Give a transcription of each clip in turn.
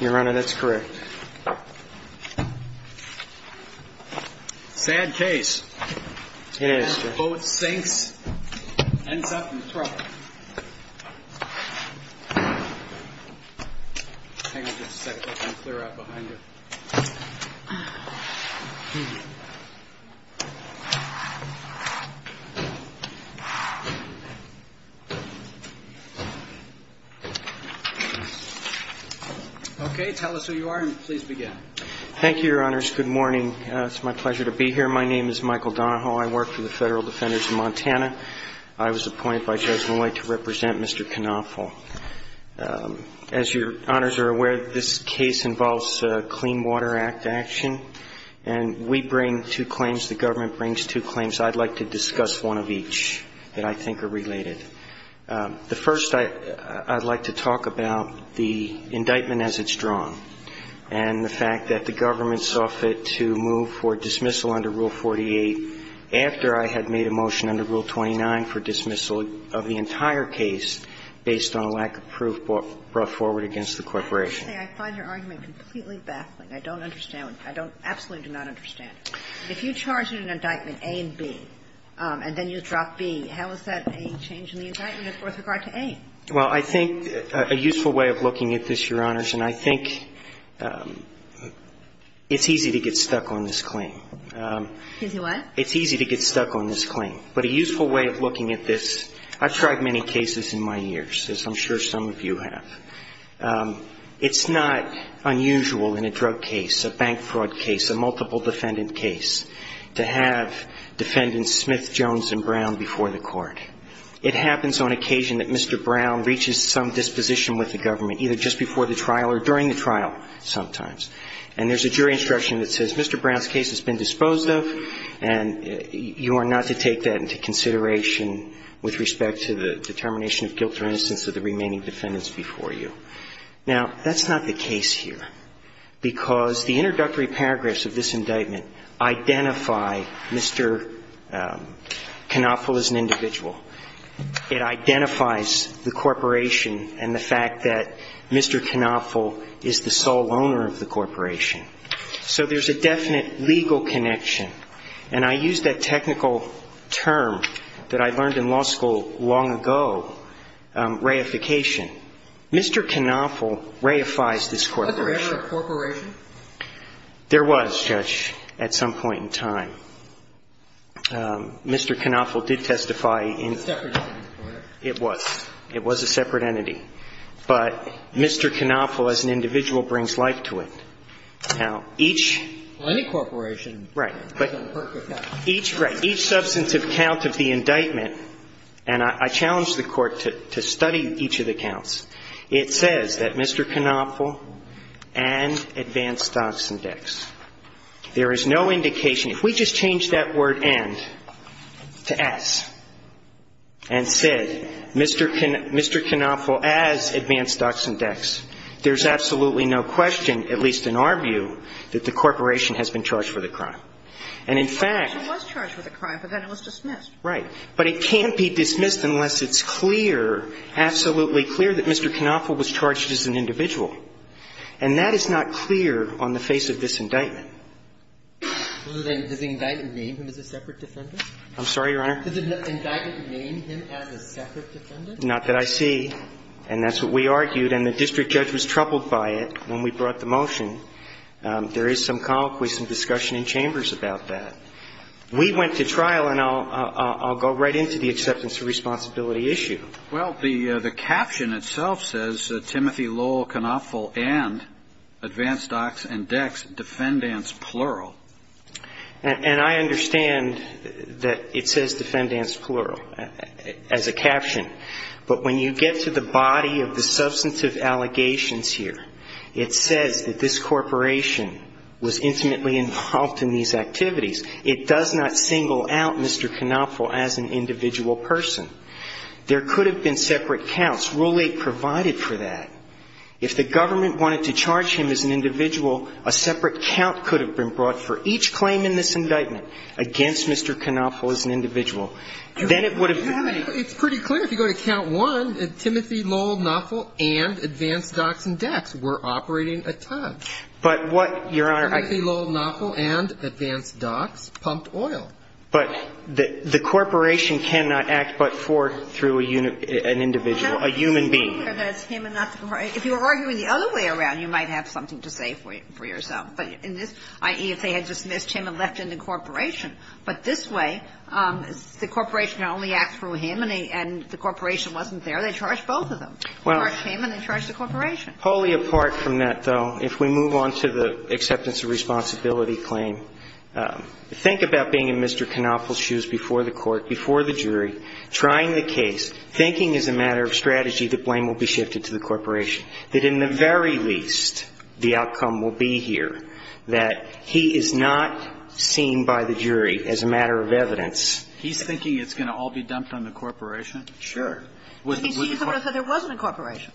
You're right, that's correct. Sad case. It is. Boat sinks, ends up in the trough. Hang on just a second, let me clear out behind you. Okay, tell us who you are and please begin. Thank you, Your Honors. Good morning. It's my pleasure to be here. My name is Michael Donahoe. I work for the Federal Defenders of Montana. I was appointed by Judge Moy to represent Mr. Knopfle. As Your Honors are aware, this case involves Clean Water Act action, and we bring two claims, the government brings two claims. I'd like to discuss one of each that I think are related. The first, I'd like to talk about the indictment as it's drawn and the fact that the government saw fit to move for dismissal under Rule 48 after I had made a motion under Rule 29 for dismissal of the entire case based on a lack of proof brought forward against the corporation. Actually, I find your argument completely baffling. I don't understand it. I don't – absolutely do not understand it. If you charge in an indictment A and B and then you drop B, how is that a change in the indictment with regard to A? Well, I think a useful way of looking at this, Your Honors, and I think it's easy to get stuck on this claim. Easy what? It's easy to get stuck on this claim. But a useful way of looking at this, I've tried many cases in my years, as I'm sure some of you have. It's not unusual in a drug case, a bank fraud case, a multiple defendant case, to have defendants Smith, Jones, and Brown before the court. It happens on occasion that Mr. Brown reaches some disposition with the government, either just before the trial or during the trial sometimes. And there's a jury instruction that says Mr. Brown's case has been disposed of and you are not to take that into consideration with respect to the determination of guilt or innocence of the remaining defendants before you. Now, that's not the case here because the introductory paragraphs of this indictment identify Mr. Canoffel as an individual. It identifies the corporation and the fact that Mr. Canoffel is the sole owner of the corporation. So there's a definite legal connection. And I use that technical term that I learned in law school long ago, reification. Mr. Canoffel reifies this corporation. Was there ever a corporation? There was, Judge, at some point in time. Mr. Canoffel did testify in the court. It was a separate entity. But Mr. Canoffel as an individual brings life to it. Now, each — Well, any corporation can work with that. Right. But each — right. Each substantive count of the indictment, and I challenge the Court to study each of the counts. It says that Mr. Canoffel and Advanced Docks and Decks. There is no indication. If we just change that word and to s and said Mr. Canoffel as Advanced Docks and Decks, there's absolutely no question, at least in our view, that the corporation has been charged with a crime. And in fact — It was charged with a crime, but then it was dismissed. Right. But it can't be dismissed unless it's clear, absolutely clear, that Mr. Canoffel was charged as an individual. And that is not clear on the face of this indictment. Does the indictment name him as a separate defendant? I'm sorry, Your Honor? Does the indictment name him as a separate defendant? Not that I see. And that's what we argued. And the district judge was troubled by it when we brought the motion. There is some convoquism, discussion in chambers about that. We went to trial, and I'll go right into the acceptance of responsibility issue. Well, the caption itself says, Timothy Lowell Canoffel and Advanced Docks and Decks, defendants plural. And I understand that it says defendants plural as a caption. But when you get to the body of the substantive allegations here, it says that this corporation was intimately involved in these activities. It does not single out Mr. Canoffel as an individual person. There could have been separate counts. Rule 8 provided for that. If the government wanted to charge him as an individual, a separate count could have been brought for each claim in this indictment against Mr. Canoffel as an individual. Then it would have been. It's pretty clear if you go to Count 1, Timothy Lowell Canoffel and Advanced Docks and Decks were operating at times. But what, Your Honor, I can't. Timothy Lowell Canoffel and Advanced Docks pumped oil. But the corporation cannot act but for through an individual, a human being. If you were arguing the other way around, you might have something to say for yourself. But in this, i.e., if they had dismissed him and left him in the corporation. But this way, the corporation not only acts through him and the corporation wasn't there, they charged both of them. They charged him and they charged the corporation. Well, wholly apart from that, though, if we move on to the acceptance of responsibility claim, think about being in Mr. Canoffel's shoes before the court, before the jury, trying the case, thinking as a matter of strategy the blame will be shifted to the corporation, that in the very least the outcome will be here, that he is not seen by the jury as a matter of evidence. He's thinking it's going to all be dumped on the corporation? Sure. So there wasn't a corporation?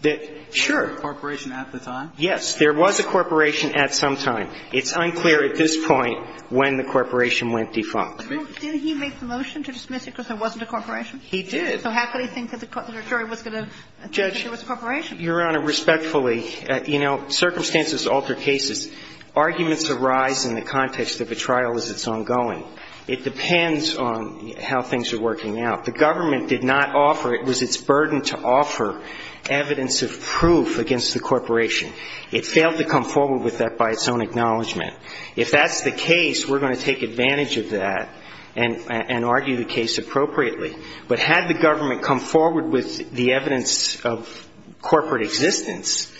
Sure. There was a corporation at the time? Yes. There was a corporation at some time. It's unclear at this point when the corporation went defunct. Did he make the motion to dismiss it because there wasn't a corporation? He did. So how could he think that the jury was going to think there was a corporation? Judge, Your Honor, respectfully, you know, circumstances alter cases. Arguments arise in the context of a trial as it's ongoing. It depends on how things are working out. The government did not offer, it was its burden to offer evidence of proof against the corporation. It failed to come forward with that by its own acknowledgment. If that's the case, we're going to take advantage of that and argue the case appropriately. But had the government come forward with the evidence of corporate existence,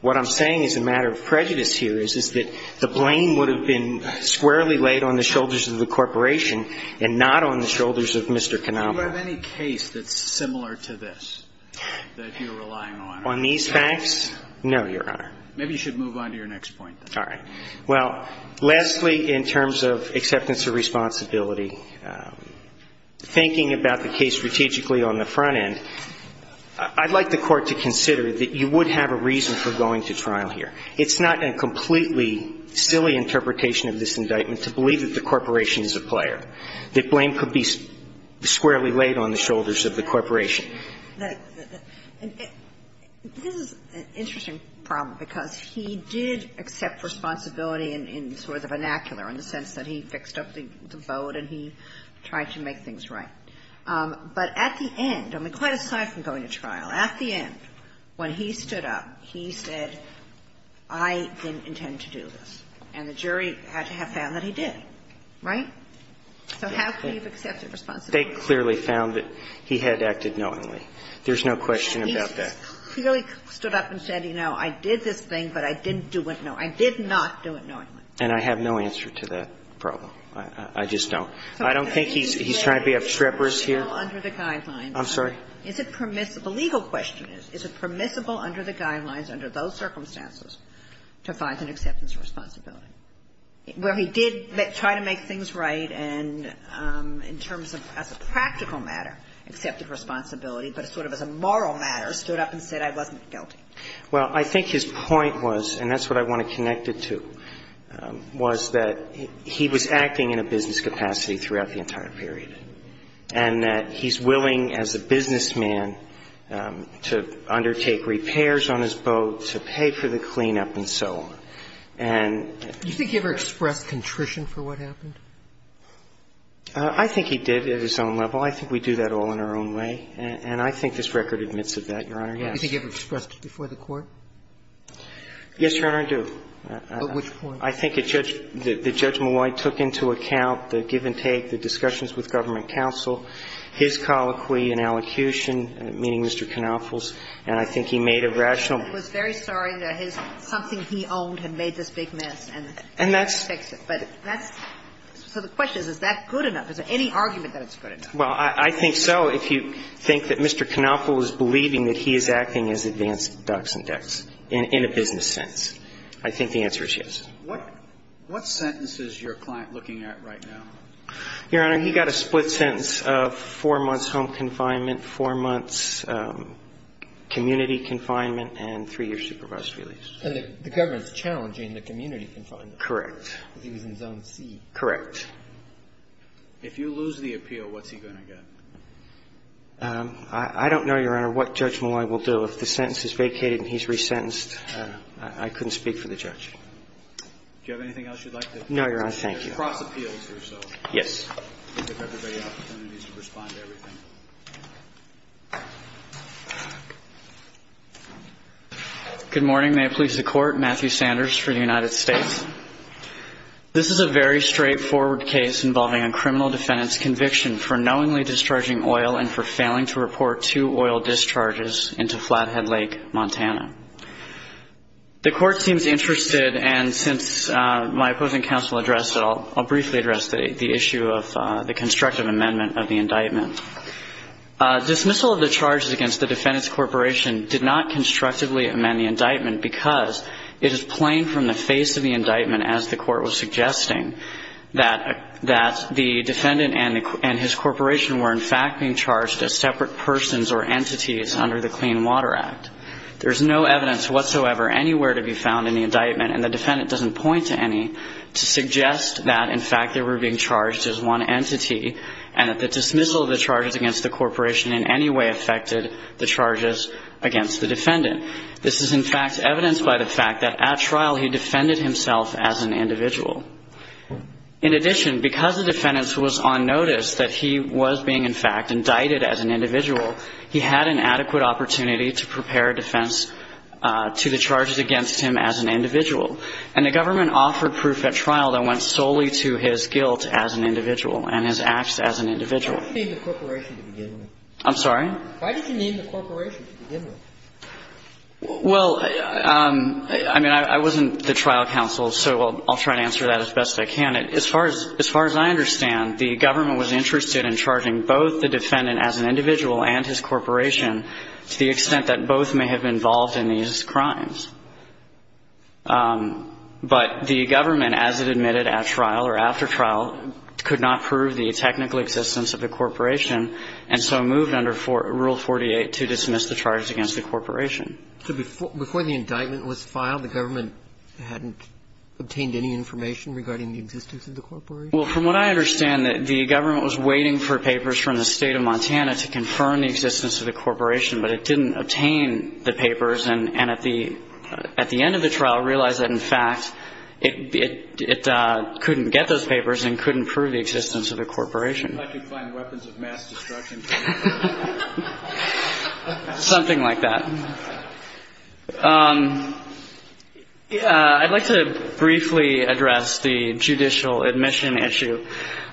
what I'm saying is a matter of prejudice here is that the blame would have been squarely laid on the shoulders of the corporation and not on the shoulders of Mr. Canomba. Do you have any case that's similar to this that you're relying on? On these facts? No, Your Honor. Maybe you should move on to your next point then. All right. Well, lastly, in terms of acceptance of responsibility, thinking about the case strategically on the front end, I'd like the Court to consider that you would have a reason for going to trial here. It's not a completely silly interpretation of this indictment to believe that the corporation is a player, that blame could be squarely laid on the shoulders of the corporation. This is an interesting problem, because he did accept responsibility in sort of the vernacular, in the sense that he fixed up the boat and he tried to make things right. But at the end, I mean, quite aside from going to trial, at the end, when he stood up, he said, I didn't intend to do this. And the jury had to have found that he did. Right? So how could he have accepted responsibility? They clearly found that he had acted knowingly. There's no question about that. He clearly stood up and said, you know, I did this thing, but I didn't do it knowingly. I did not do it knowingly. And I have no answer to that problem. I just don't. I don't think he's trying to be a trepidant here. I'm sorry? The legal question is, is it permissible under the guidelines, under those circumstances, to find an acceptance of responsibility? Where he did try to make things right and in terms of as a practical matter accepted responsibility, but sort of as a moral matter stood up and said, I wasn't guilty. Well, I think his point was, and that's what I want to connect it to, was that he was acting in a business capacity throughout the entire period, and that he's willing as a businessman to undertake repairs on his boat, to pay for the cleanup, and so on. And you think he ever expressed contrition for what happened? I think he did at his own level. I think we do that all in our own way. And I think this record admits of that, Your Honor, yes. Do you think he ever expressed it before the Court? Yes, Your Honor, I do. At which point? I think the Judge Malloy took into account the give and take, the discussions with government counsel, his colloquy and allocution, meeting Mr. Canoffel's, and I think he made a rational point. He was very sorry that something he owned had made this big mess and he expects it. But that's so the question is, is that good enough? Is there any argument that it's good enough? Well, I think so, if you think that Mr. Canoffel is believing that he is acting as advance dux and dex in a business sense. I think the answer is yes. What sentence is your client looking at right now? Your Honor, he got a split sentence of four months home confinement, four months community confinement, and three years supervised release. And the government is challenging the community confinement. Correct. Because he was in Zone C. Correct. If you lose the appeal, what's he going to get? I don't know, Your Honor, what Judge Malloy will do. Do you have anything else you'd like to say? No, Your Honor. Thank you. There are cross appeals here, so. Yes. We'll give everybody an opportunity to respond to everything. Good morning. May it please the Court. Matthew Sanders for the United States. This is a very straightforward case involving a criminal defendant's conviction for knowingly discharging oil and for failing to report two oil discharges into Flathead Lake, Montana. The Court seems interested, and since my opposing counsel addressed it, I'll briefly address the issue of the constructive amendment of the indictment. Dismissal of the charges against the defendant's corporation did not constructively amend the indictment because it is plain from the face of the indictment, as the Court was suggesting, that the defendant and his corporation were, in fact, being charged as separate persons or entities under the Clean Water Act. There is no evidence whatsoever anywhere to be found in the indictment, and the defendant doesn't point to any to suggest that, in fact, they were being charged as one entity and that the dismissal of the charges against the corporation in any way affected the charges against the defendant. This is, in fact, evidenced by the fact that at trial he defended himself as an individual. In addition, because the defendant was on notice that he was being, in fact, to the charges against him as an individual. And the government offered proof at trial that went solely to his guilt as an individual and his acts as an individual. I'm sorry? Well, I mean, I wasn't the trial counsel, so I'll try to answer that as best I can. As far as I understand, the government was interested in charging both the defendant as an individual and his corporation to the extent that both may have been involved in these crimes. But the government, as it admitted at trial or after trial, could not prove the technical existence of the corporation and so moved under Rule 48 to dismiss the charges against the corporation. So before the indictment was filed, the government hadn't obtained any information regarding the existence of the corporation? Well, from what I understand, the government was waiting for papers from the State of Montana to confirm the existence of the corporation, but it didn't obtain the papers. And at the end of the trial realized that, in fact, it couldn't get those papers and couldn't prove the existence of the corporation. It's like you find weapons of mass destruction. Something like that. I'd like to briefly address the judicial admission issue.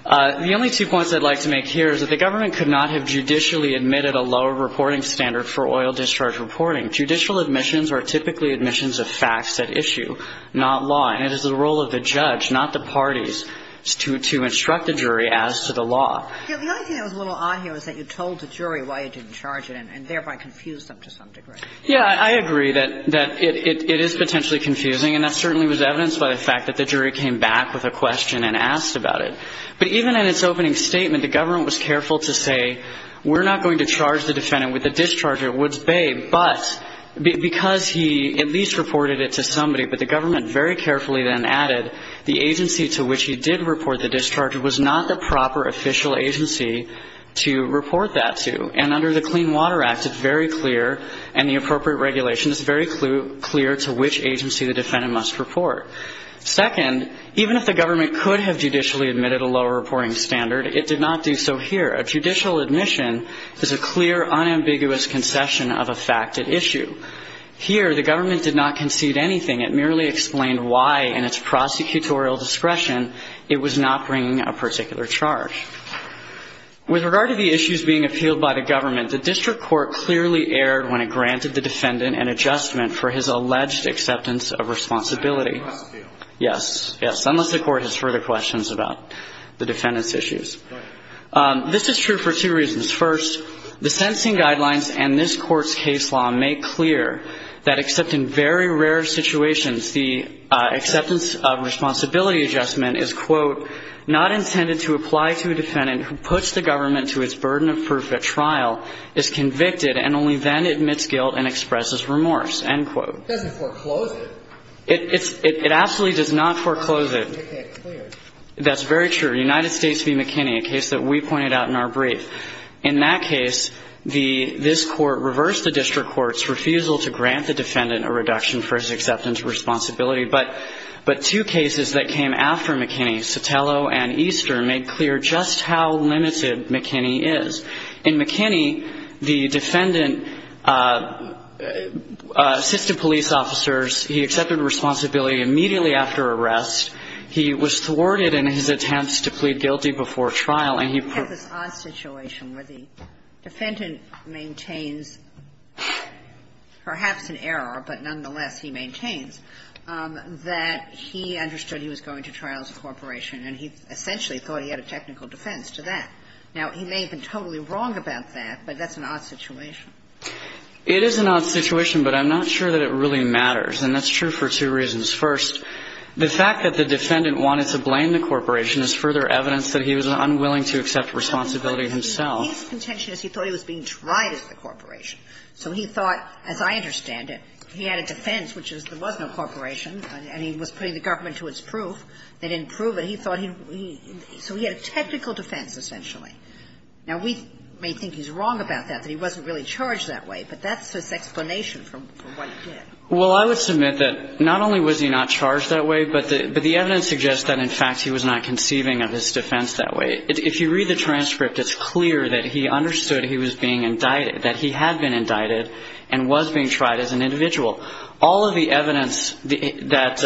The only two points I'd like to make here is that the government could not have judicially admitted a lower reporting standard for oil discharge reporting. Judicial admissions are typically admissions of facts at issue, not law. And it is the role of the judge, not the parties, to instruct the jury as to the law. The only thing that was a little odd here was that you told the jury why you didn't charge it and thereby confused them to some degree. Yeah, I agree that it is potentially confusing. And that certainly was evidenced by the fact that the jury came back with a question and asked about it. But even in its opening statement, the government was careful to say, we're not going to charge the defendant with a discharge at Woods Bay, but because he at least reported it to somebody. But the government very carefully then added the agency to which he did report the discharge was not the proper official agency to report that to. And under the Clean Water Act, it's very clear, and the appropriate regulation is very clear to which agency the defendant must report. Second, even if the government could have judicially admitted a lower reporting standard, it did not do so here. A judicial admission is a clear, unambiguous concession of a fact at issue. Here, the government did not concede anything. It merely explained why, in its prosecutorial discretion, it was not bringing a particular charge. With regard to the issues being appealed by the government, the district court clearly erred when it granted the defendant an adjustment for his alleged acceptance of responsibility. Yes, yes, unless the court has further questions about the defendant's issues. This is true for two reasons. First, the sentencing guidelines and this court's case law make clear that, the acceptance of responsibility adjustment is, quote, not intended to apply to a defendant who puts the government to its burden of proof at trial, is convicted, and only then admits guilt and expresses remorse, end quote. It doesn't foreclose it. It absolutely does not foreclose it. That's very true. United States v. McKinney, a case that we pointed out in our brief. In that case, this court reversed the district court's refusal to grant the defendant a reduction for his acceptance of responsibility. But two cases that came after McKinney, Sotelo and Easter, made clear just how limited McKinney is. In McKinney, the defendant assisted police officers. He accepted responsibility immediately after arrest. He was thwarted in his attempts to plead guilty before trial, and he proved. And so there's this odd situation where the defendant maintains perhaps an error, but nonetheless he maintains, that he understood he was going to trial as a corporation and he essentially thought he had a technical defense to that. Now, he may have been totally wrong about that, but that's an odd situation. It is an odd situation, but I'm not sure that it really matters. And that's true for two reasons. First, the fact that the defendant wanted to blame the corporation is further evidence that he was unwilling to accept responsibility himself. He's contentious. He thought he was being tried as the corporation. So he thought, as I understand it, he had a defense, which is there was no corporation, and he was putting the government to its proof. They didn't prove it. He thought he had a technical defense, essentially. Now, we may think he's wrong about that, that he wasn't really charged that way. But that's his explanation for what he did. Well, I would submit that not only was he not charged that way, but the evidence suggests that, in fact, he was not conceiving of his defense that way. If you read the transcript, it's clear that he understood he was being indicted, that he had been indicted and was being tried as an individual. All of the evidence that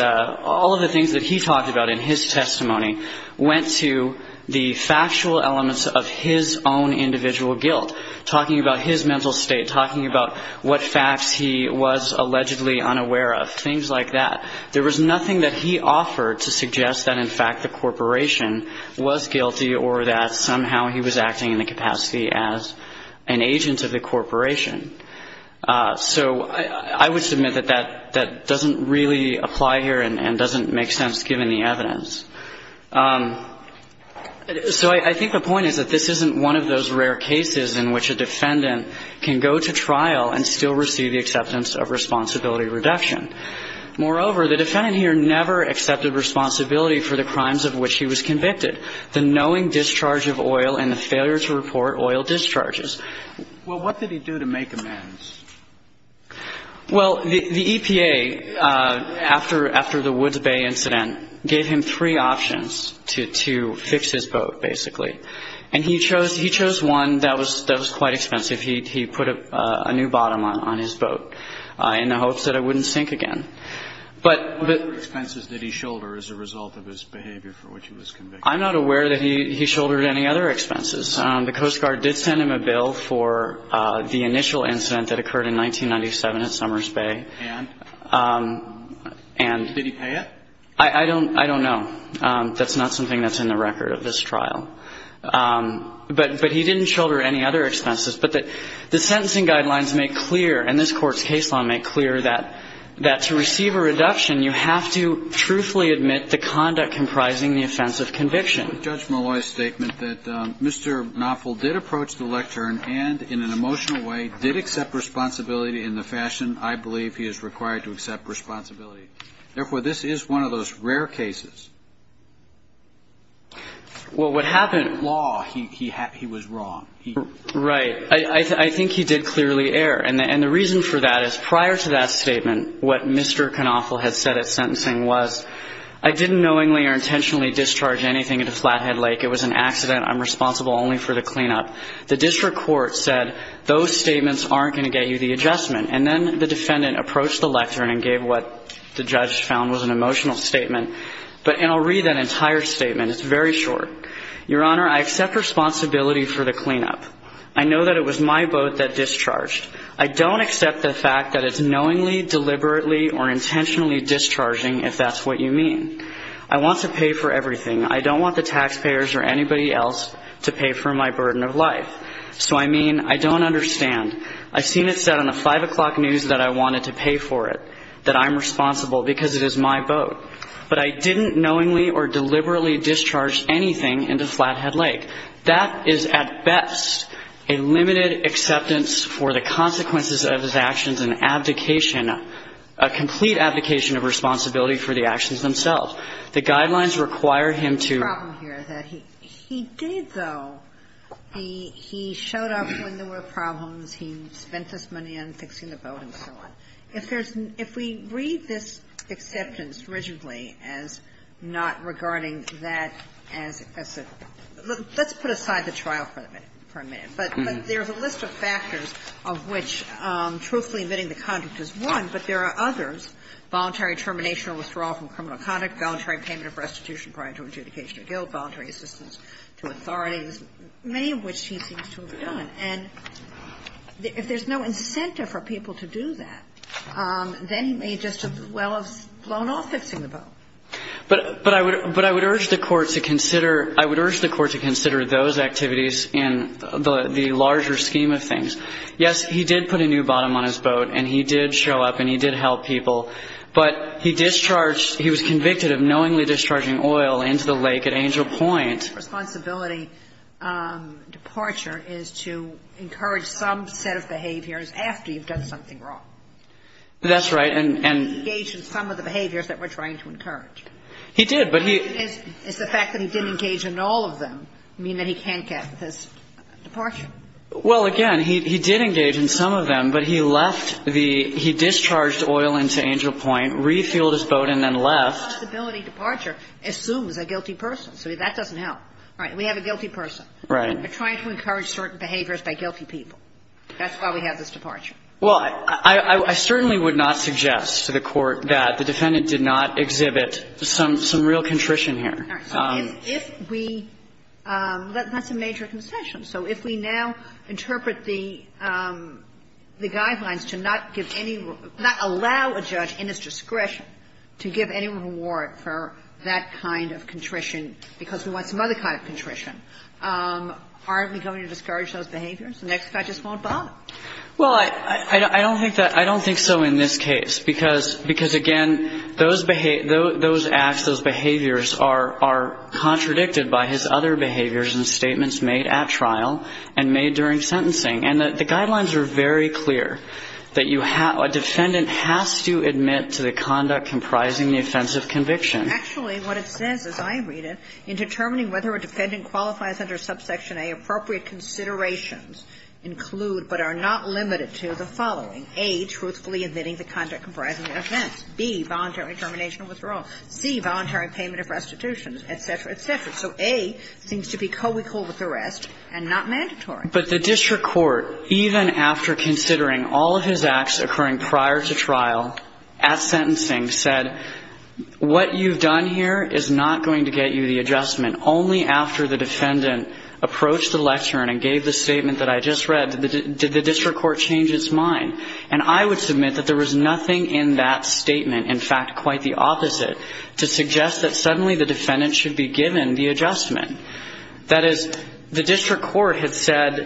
he talked about in his testimony went to the factual elements of his own individual guilt, talking about his mental state, talking about what facts he was allegedly unaware of, things like that. There was nothing that he offered to suggest that, in fact, the corporation was guilty or that somehow he was acting in the capacity as an agent of the corporation. So I would submit that that doesn't really apply here and doesn't make sense given the evidence. So I think the point is that this isn't one of those rare cases in which a defendant can go to trial and still receive the acceptance of responsibility reduction. Moreover, the defendant here never accepted responsibility for the crimes of which he was convicted, the knowing discharge of oil and the failure to report oil discharges. Well, what did he do to make amends? Well, the EPA, after the Woods Bay incident, gave him three options to fix his boat, basically. And he chose one that was quite expensive. He put a new bottom on his boat in the hopes that it wouldn't sink again. What other expenses did he shoulder as a result of his behavior for which he was convicted? I'm not aware that he shouldered any other expenses. The Coast Guard did send him a bill for the initial incident that occurred in 1997 at Summers Bay. And? And. Did he pay it? I don't know. That's not something that's in the record of this trial. But he didn't shoulder any other expenses. But the sentencing guidelines make clear, and this Court's case law make clear, that to receive a reduction, you have to truthfully admit the conduct comprising the offense of conviction. Judge Malloy's statement that Mr. Knopfel did approach the lectern and, in an emotional way, did accept responsibility in the fashion I believe he is required to accept responsibility. Therefore, this is one of those rare cases. Well, what happened? Law. He was wrong. Right. I think he did clearly err. And the reason for that is, prior to that statement, what Mr. Knopfel had said at sentencing was, I didn't knowingly or intentionally discharge anything at a Flathead Lake. It was an accident. I'm responsible only for the cleanup. The district court said, those statements aren't going to get you the adjustment. And then the defendant approached the lectern and gave what the judge found was an emotional statement. And I'll read that entire statement. It's very short. Your Honor, I accept responsibility for the cleanup. I know that it was my boat that discharged. I don't accept the fact that it's knowingly, deliberately, or intentionally discharging, if that's what you mean. I want to pay for everything. I don't want the taxpayers or anybody else to pay for my burden of life. So, I mean, I don't understand. I've seen it said on the 5 o'clock news that I wanted to pay for it, that I'm responsible because it is my boat. But I didn't knowingly or deliberately discharge anything into Flathead Lake. That is, at best, a limited acceptance for the consequences of his actions and abdication, a complete abdication of responsibility for the actions themselves. The guidelines require him to ---- The problem here is that he did, though, he showed up when there were problems. He spent his money on fixing the boat and so on. If there's no ---- if we read this acceptance rigidly as not regarding that as a ---- let's put aside the trial for a minute. But there's a list of factors of which truthfully admitting the conduct is one, but there are others, voluntary termination or withdrawal from criminal conduct, voluntary payment of restitution prior to adjudication or guilt, voluntary assistance to authorities, many of which he seems to have done. And if there's no incentive for people to do that, then he may just as well have blown off fixing the boat. But I would urge the Court to consider those activities in the larger scheme of things. Yes, he did put a new bottom on his boat and he did show up and he did help people, but he discharged ---- he was convicted of knowingly discharging oil into the lake at Angel Point. And his responsibility departure is to encourage some set of behaviors after you've done something wrong. That's right. And he engaged in some of the behaviors that we're trying to encourage. He did, but he ---- Does the fact that he didn't engage in all of them mean that he can't get his departure? Well, again, he did engage in some of them, but he left the ---- he discharged oil into Angel Point, refueled his boat and then left. So his responsibility departure assumes a guilty person. So that doesn't help. All right. We have a guilty person. Right. We're trying to encourage certain behaviors by guilty people. That's why we have this departure. Well, I certainly would not suggest to the Court that the defendant did not exhibit some real contrition here. All right. So if we ---- that's a major concession. So if we now interpret the guidelines to not give any ---- not allow a judge in his discretion to give any reward for that kind of contrition because we want some other kind of contrition, aren't we going to discourage those behaviors? The next guy just won't bother. Well, I don't think that ---- I don't think so in this case because, again, those acts, those behaviors are contradicted by his other behaviors and statements made at trial and made during sentencing. And the guidelines are very clear that you have ---- a defendant has to admit to the conduct comprising the offense of conviction. Actually, what it says, as I read it, in determining whether a defendant qualifies under subsection A, appropriate considerations include but are not limited to the following. A, truthfully admitting the conduct comprising the offense. B, voluntary termination of withdrawal. C, voluntary payment of restitutions, et cetera, et cetera. So A seems to be co-equal with the rest and not mandatory. But the district court, even after considering all of his acts occurring prior to trial at sentencing, said, what you've done here is not going to get you the adjustment. Only after the defendant approached the lectern and gave the statement that I just read did the district court change its mind. And I would submit that there was nothing in that statement, in fact, quite the opposite, to suggest that suddenly the defendant should be given the adjustment. That is, the district court had said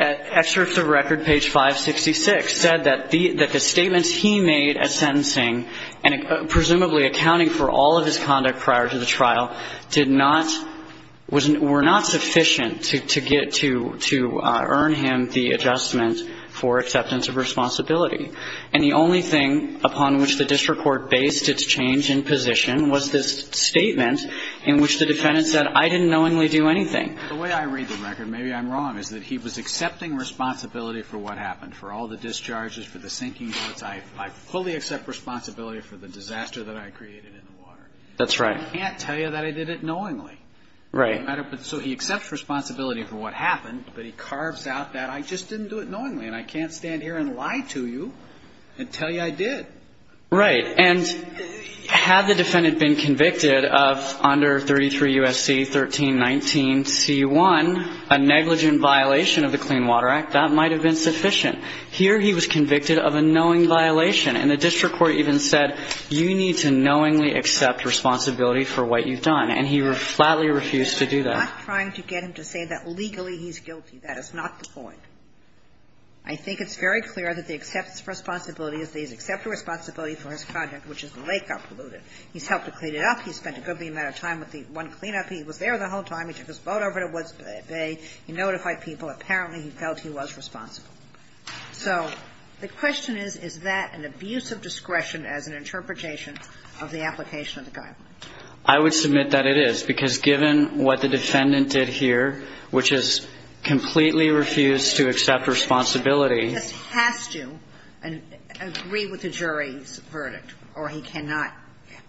at excerpts of record, page 566, said that the statements he made at sentencing, and presumably accounting for all of his conduct prior to the trial, did not ---- were not sufficient to get to ---- to earn him the adjustment for acceptance of responsibility. And the only thing upon which the district court based its change in position was this statement in which the defendant said, I didn't knowingly do anything. The way I read the record, maybe I'm wrong, is that he was accepting responsibility for what happened, for all the discharges, for the sinking boats. I fully accept responsibility for the disaster that I created in the water. That's right. I can't tell you that I did it knowingly. Right. So he accepts responsibility for what happened, but he carves out that I just didn't do it knowingly, and I can't stand here and lie to you and tell you I did. Right. And had the defendant been convicted of under 33 U.S.C. 1319c1, a negligent violation of the Clean Water Act, that might have been sufficient. Here he was convicted of a knowing violation, and the district court even said, you need to knowingly accept responsibility for what you've done. And he flatly refused to do that. I'm not trying to get him to say that legally he's guilty. That is not the point. I think it's very clear that the acceptance of responsibility is that he's accepted responsibility for his conduct, which is the lake got polluted. He's helped to clean it up. He spent a good amount of time with the one cleanup. He was there the whole time. He took his boat over to Woods Bay. He notified people. Apparently, he felt he was responsible. So the question is, is that an abuse of discretion as an interpretation of the application of the guidelines? I would submit that it is, because given what the defendant did here, which is completely refused to accept responsibility. He just has to agree with the jury's verdict, or he cannot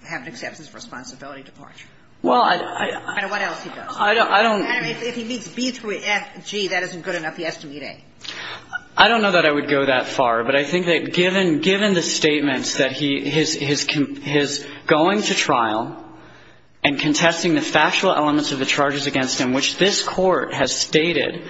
have an acceptance of responsibility departure. Well, I don't. I don't know what else he does. I don't. If he meets B through F, G, that isn't good enough. He has to meet A. I don't know that I would go that far. But I think that given the statements that his going to trial and contesting the factual elements of the charges against him, which this Court has stated,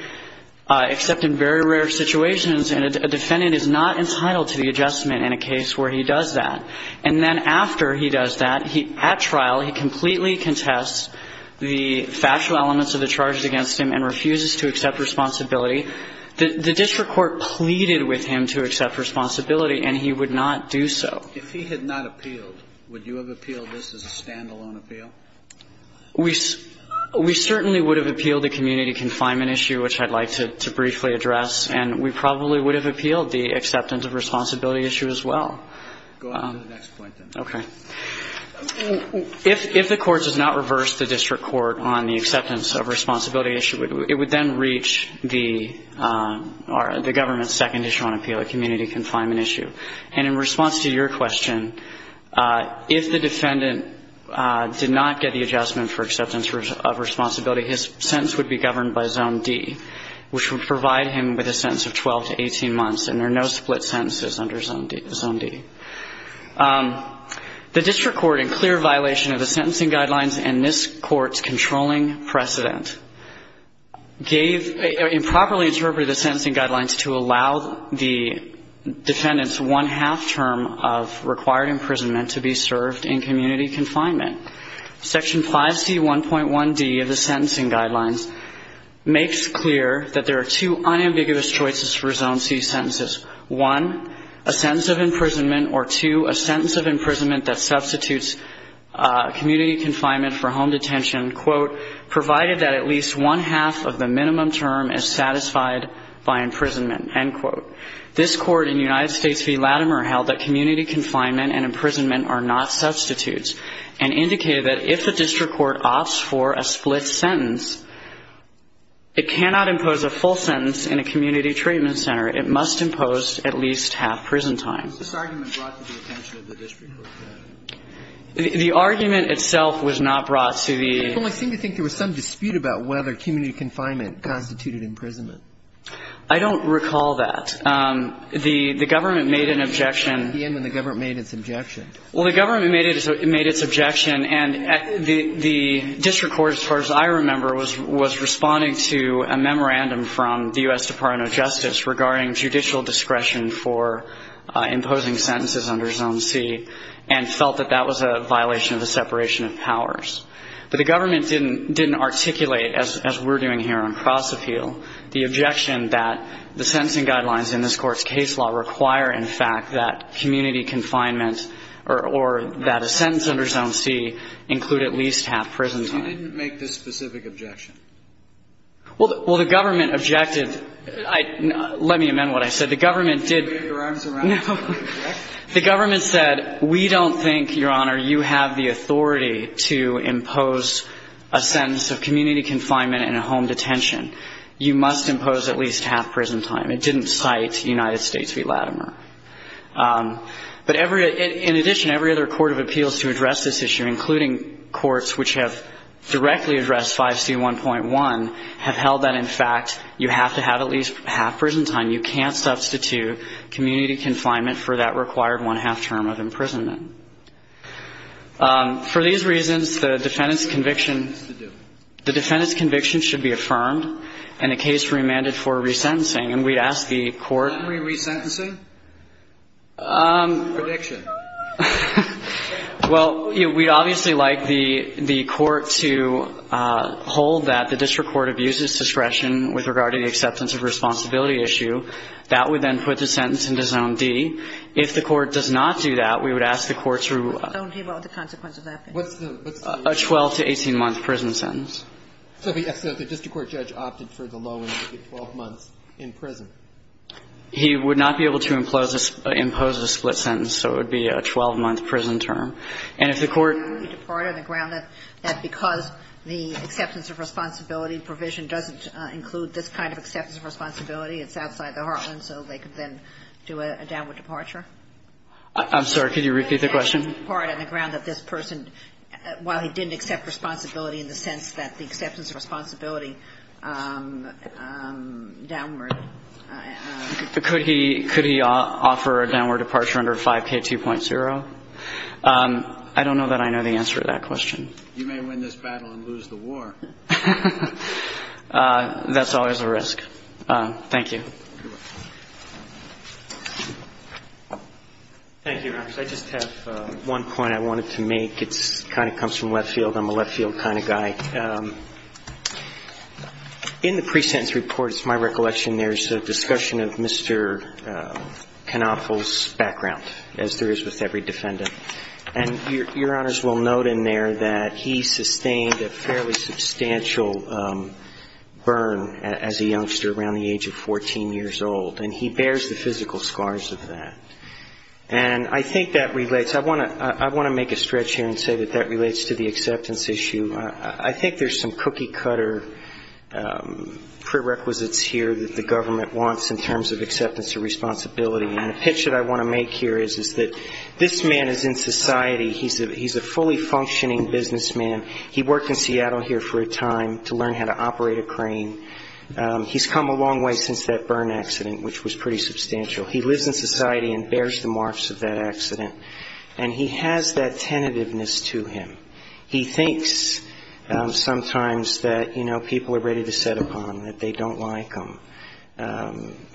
except in very rare situations, and a defendant is not entitled to the adjustment in a case where he does that, and then after he does that, at trial, he completely contests the factual elements of the charges against him and refuses to accept responsibility, the district court pleaded with him to accept responsibility and he would not do so. Well, if he had not appealed, would you have appealed this as a stand-alone appeal? We certainly would have appealed the community confinement issue, which I'd like to briefly address, and we probably would have appealed the acceptance of responsibility issue as well. Go on to the next point, then. Okay. If the Court does not reverse the district court on the acceptance of responsibility issue, it would then reach the government's second issue on appeal, a community confinement issue. And in response to your question, if the defendant did not get the adjustment for acceptance of responsibility, his sentence would be governed by Zone D, which would provide him with a sentence of 12 to 18 months, and there are no split sentences under Zone D. The district court, in clear violation of the sentencing guidelines and this Court's controlling precedent, gave improperly interpreted the sentencing guidelines to allow the defendant's one-half term of required imprisonment to be served in community confinement. Section 5C1.1D of the sentencing guidelines makes clear that there are two unambiguous choices for Zone C sentences, one, a sentence of imprisonment, or two, a sentence of imprisonment that substitutes community confinement for home detention, quote, provided that at least one-half of the minimum term is satisfied by imprisonment, end quote. This Court in the United States v. Latimer held that community confinement and imprisonment are not substitutes and indicated that if the district court opts for a split sentence, it cannot impose a full sentence in a community treatment center. It must impose at least half prison time. The argument itself was not brought to the ---- dispute about whether community confinement constituted imprisonment. I don't recall that. The government made an objection. The end when the government made its objection. Well, the government made its objection, and the district court, as far as I remember, was responding to a memorandum from the U.S. Department of Justice regarding judicial discretion for imposing sentences under Zone C and felt that that was a violation of the separation of powers. But the government didn't articulate, as we're doing here on cross-appeal, the objection that the sentencing guidelines in this Court's case law require, in fact, that community confinement or that a sentence under Zone C include at least half prison time. You didn't make this specific objection. Well, the government objected. Let me amend what I said. The government did ---- Did you wave your arms around to make an objection? No. The government said, we don't think, Your Honor, you have the authority to impose a sentence of community confinement and a home detention. You must impose at least half prison time. It didn't cite United States v. Latimer. But every ---- in addition, every other court of appeals to address this issue, including courts which have directly addressed 5C1.1, have held that, in fact, you have to have at least half prison time. You can't substitute community confinement for that required one-half term of imprisonment. For these reasons, the defendant's conviction should be affirmed, and the case remanded for resentencing. And we'd ask the Court ---- Can we re-sentence him? Prediction. Well, we'd obviously like the Court to hold that the district court abuses discretion with regard to the acceptance of responsibility issue. That would then put the sentence into zone D. If the Court does not do that, we would ask the Court to ---- What would the consequence of that be? What's the ---- A 12 to 18-month prison sentence. So the district court judge opted for the low end, the 12 months in prison. He would not be able to impose a split sentence, so it would be a 12-month prison And if the Court ---- Could he depart on the ground that because the acceptance of responsibility provision doesn't include this kind of acceptance of responsibility, it's outside the heartland, so they could then do a downward departure? I'm sorry. Could you repeat the question? Could he depart on the ground that this person, while he didn't accept responsibility in the sense that the acceptance of responsibility downward ---- Could he offer a downward departure under 5K2.0? I don't know that I know the answer to that question. You may win this battle and lose the war. That's always a risk. Thank you. You're welcome. Thank you. I just have one point I wanted to make. It kind of comes from Leftfield. I'm a Leftfield kind of guy. And your Honors will note in there that he sustained a fairly substantial burn as a youngster around the age of 14 years old. And he bears the physical scars of that. And I think that relates ---- I want to make a stretch here and say that that relates to the acceptance issue. I think there's some cookie-cutter prerequisites here that the government wants in terms of acceptance of responsibility. And the pitch that I want to make here is that this man is in society. He's a fully functioning businessman. He worked in Seattle here for a time to learn how to operate a crane. He's come a long way since that burn accident, which was pretty substantial. He lives in society and bears the marks of that accident. And he has that tentativeness to him. He thinks sometimes that, you know, people are ready to set upon, that they don't like them.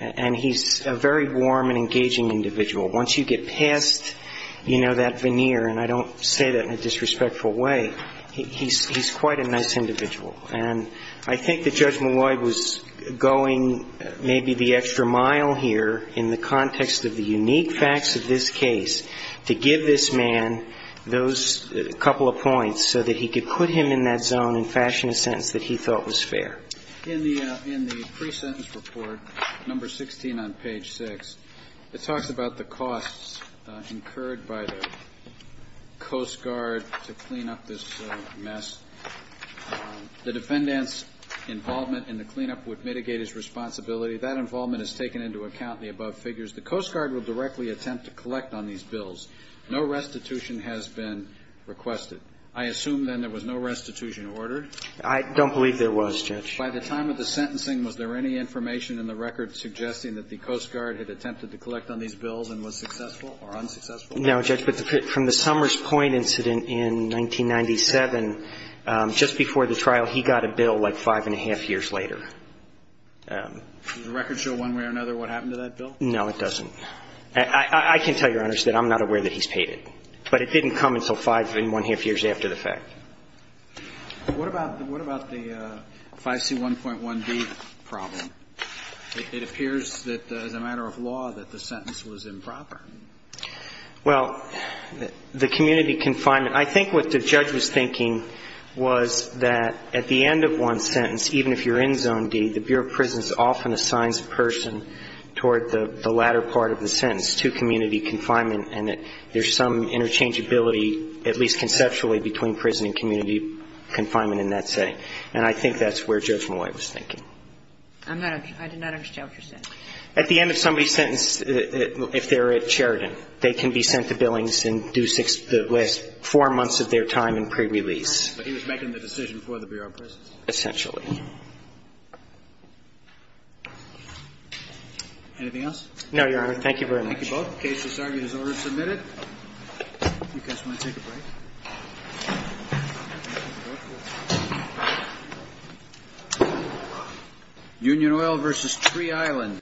And he's a very warm and engaging individual. Once you get past, you know, that veneer, and I don't say that in a disrespectful way, he's quite a nice individual. And I think that Judge Malloy was going maybe the extra mile here in the context of the unique facts of this case to give this man those couple of points so that he could put him in that zone and fashion a sentence that he thought was fair. In the pre-sentence report, number 16 on page 6, it talks about the costs incurred by the Coast Guard to clean up this mess. The defendant's involvement in the cleanup would mitigate his responsibility. That involvement is taken into account in the above figures. The Coast Guard will directly attempt to collect on these bills. No restitution has been requested. I assume then there was no restitution ordered? I don't believe there was, Judge. By the time of the sentencing, was there any information in the record suggesting that the Coast Guard had attempted to collect on these bills and was successful or unsuccessful? No, Judge, but from the Summers Point incident in 1997, just before the trial, he got a bill like five and a half years later. Does the record show one way or another what happened to that bill? No, it doesn't. I can tell you, Your Honors, that I'm not aware that he's paid it. But it didn't come until five and one-half years after the fact. What about the 5C1.1d problem? It appears that as a matter of law that the sentence was improper. Well, the community confinement, I think what the judge was thinking was that at the end of one sentence, even if you're in zone D, the Bureau of Prisons often assigns a person toward the latter part of the sentence, to community confinement, and that there's some interchangeability, at least conceptually, between prison and community confinement in that setting. And I think that's where Judge Malloy was thinking. I'm not – I did not understand what you're saying. At the end of somebody's sentence, if they're at Sheridan, they can be sent to Billings and do the last four months of their time in prerelease. Essentially. Anything else? No, Your Honor. Thank you very much. Thank you both. The case is argued as ordered and submitted. You guys want to take a break? Thank you. Union Oil v. Tree Island.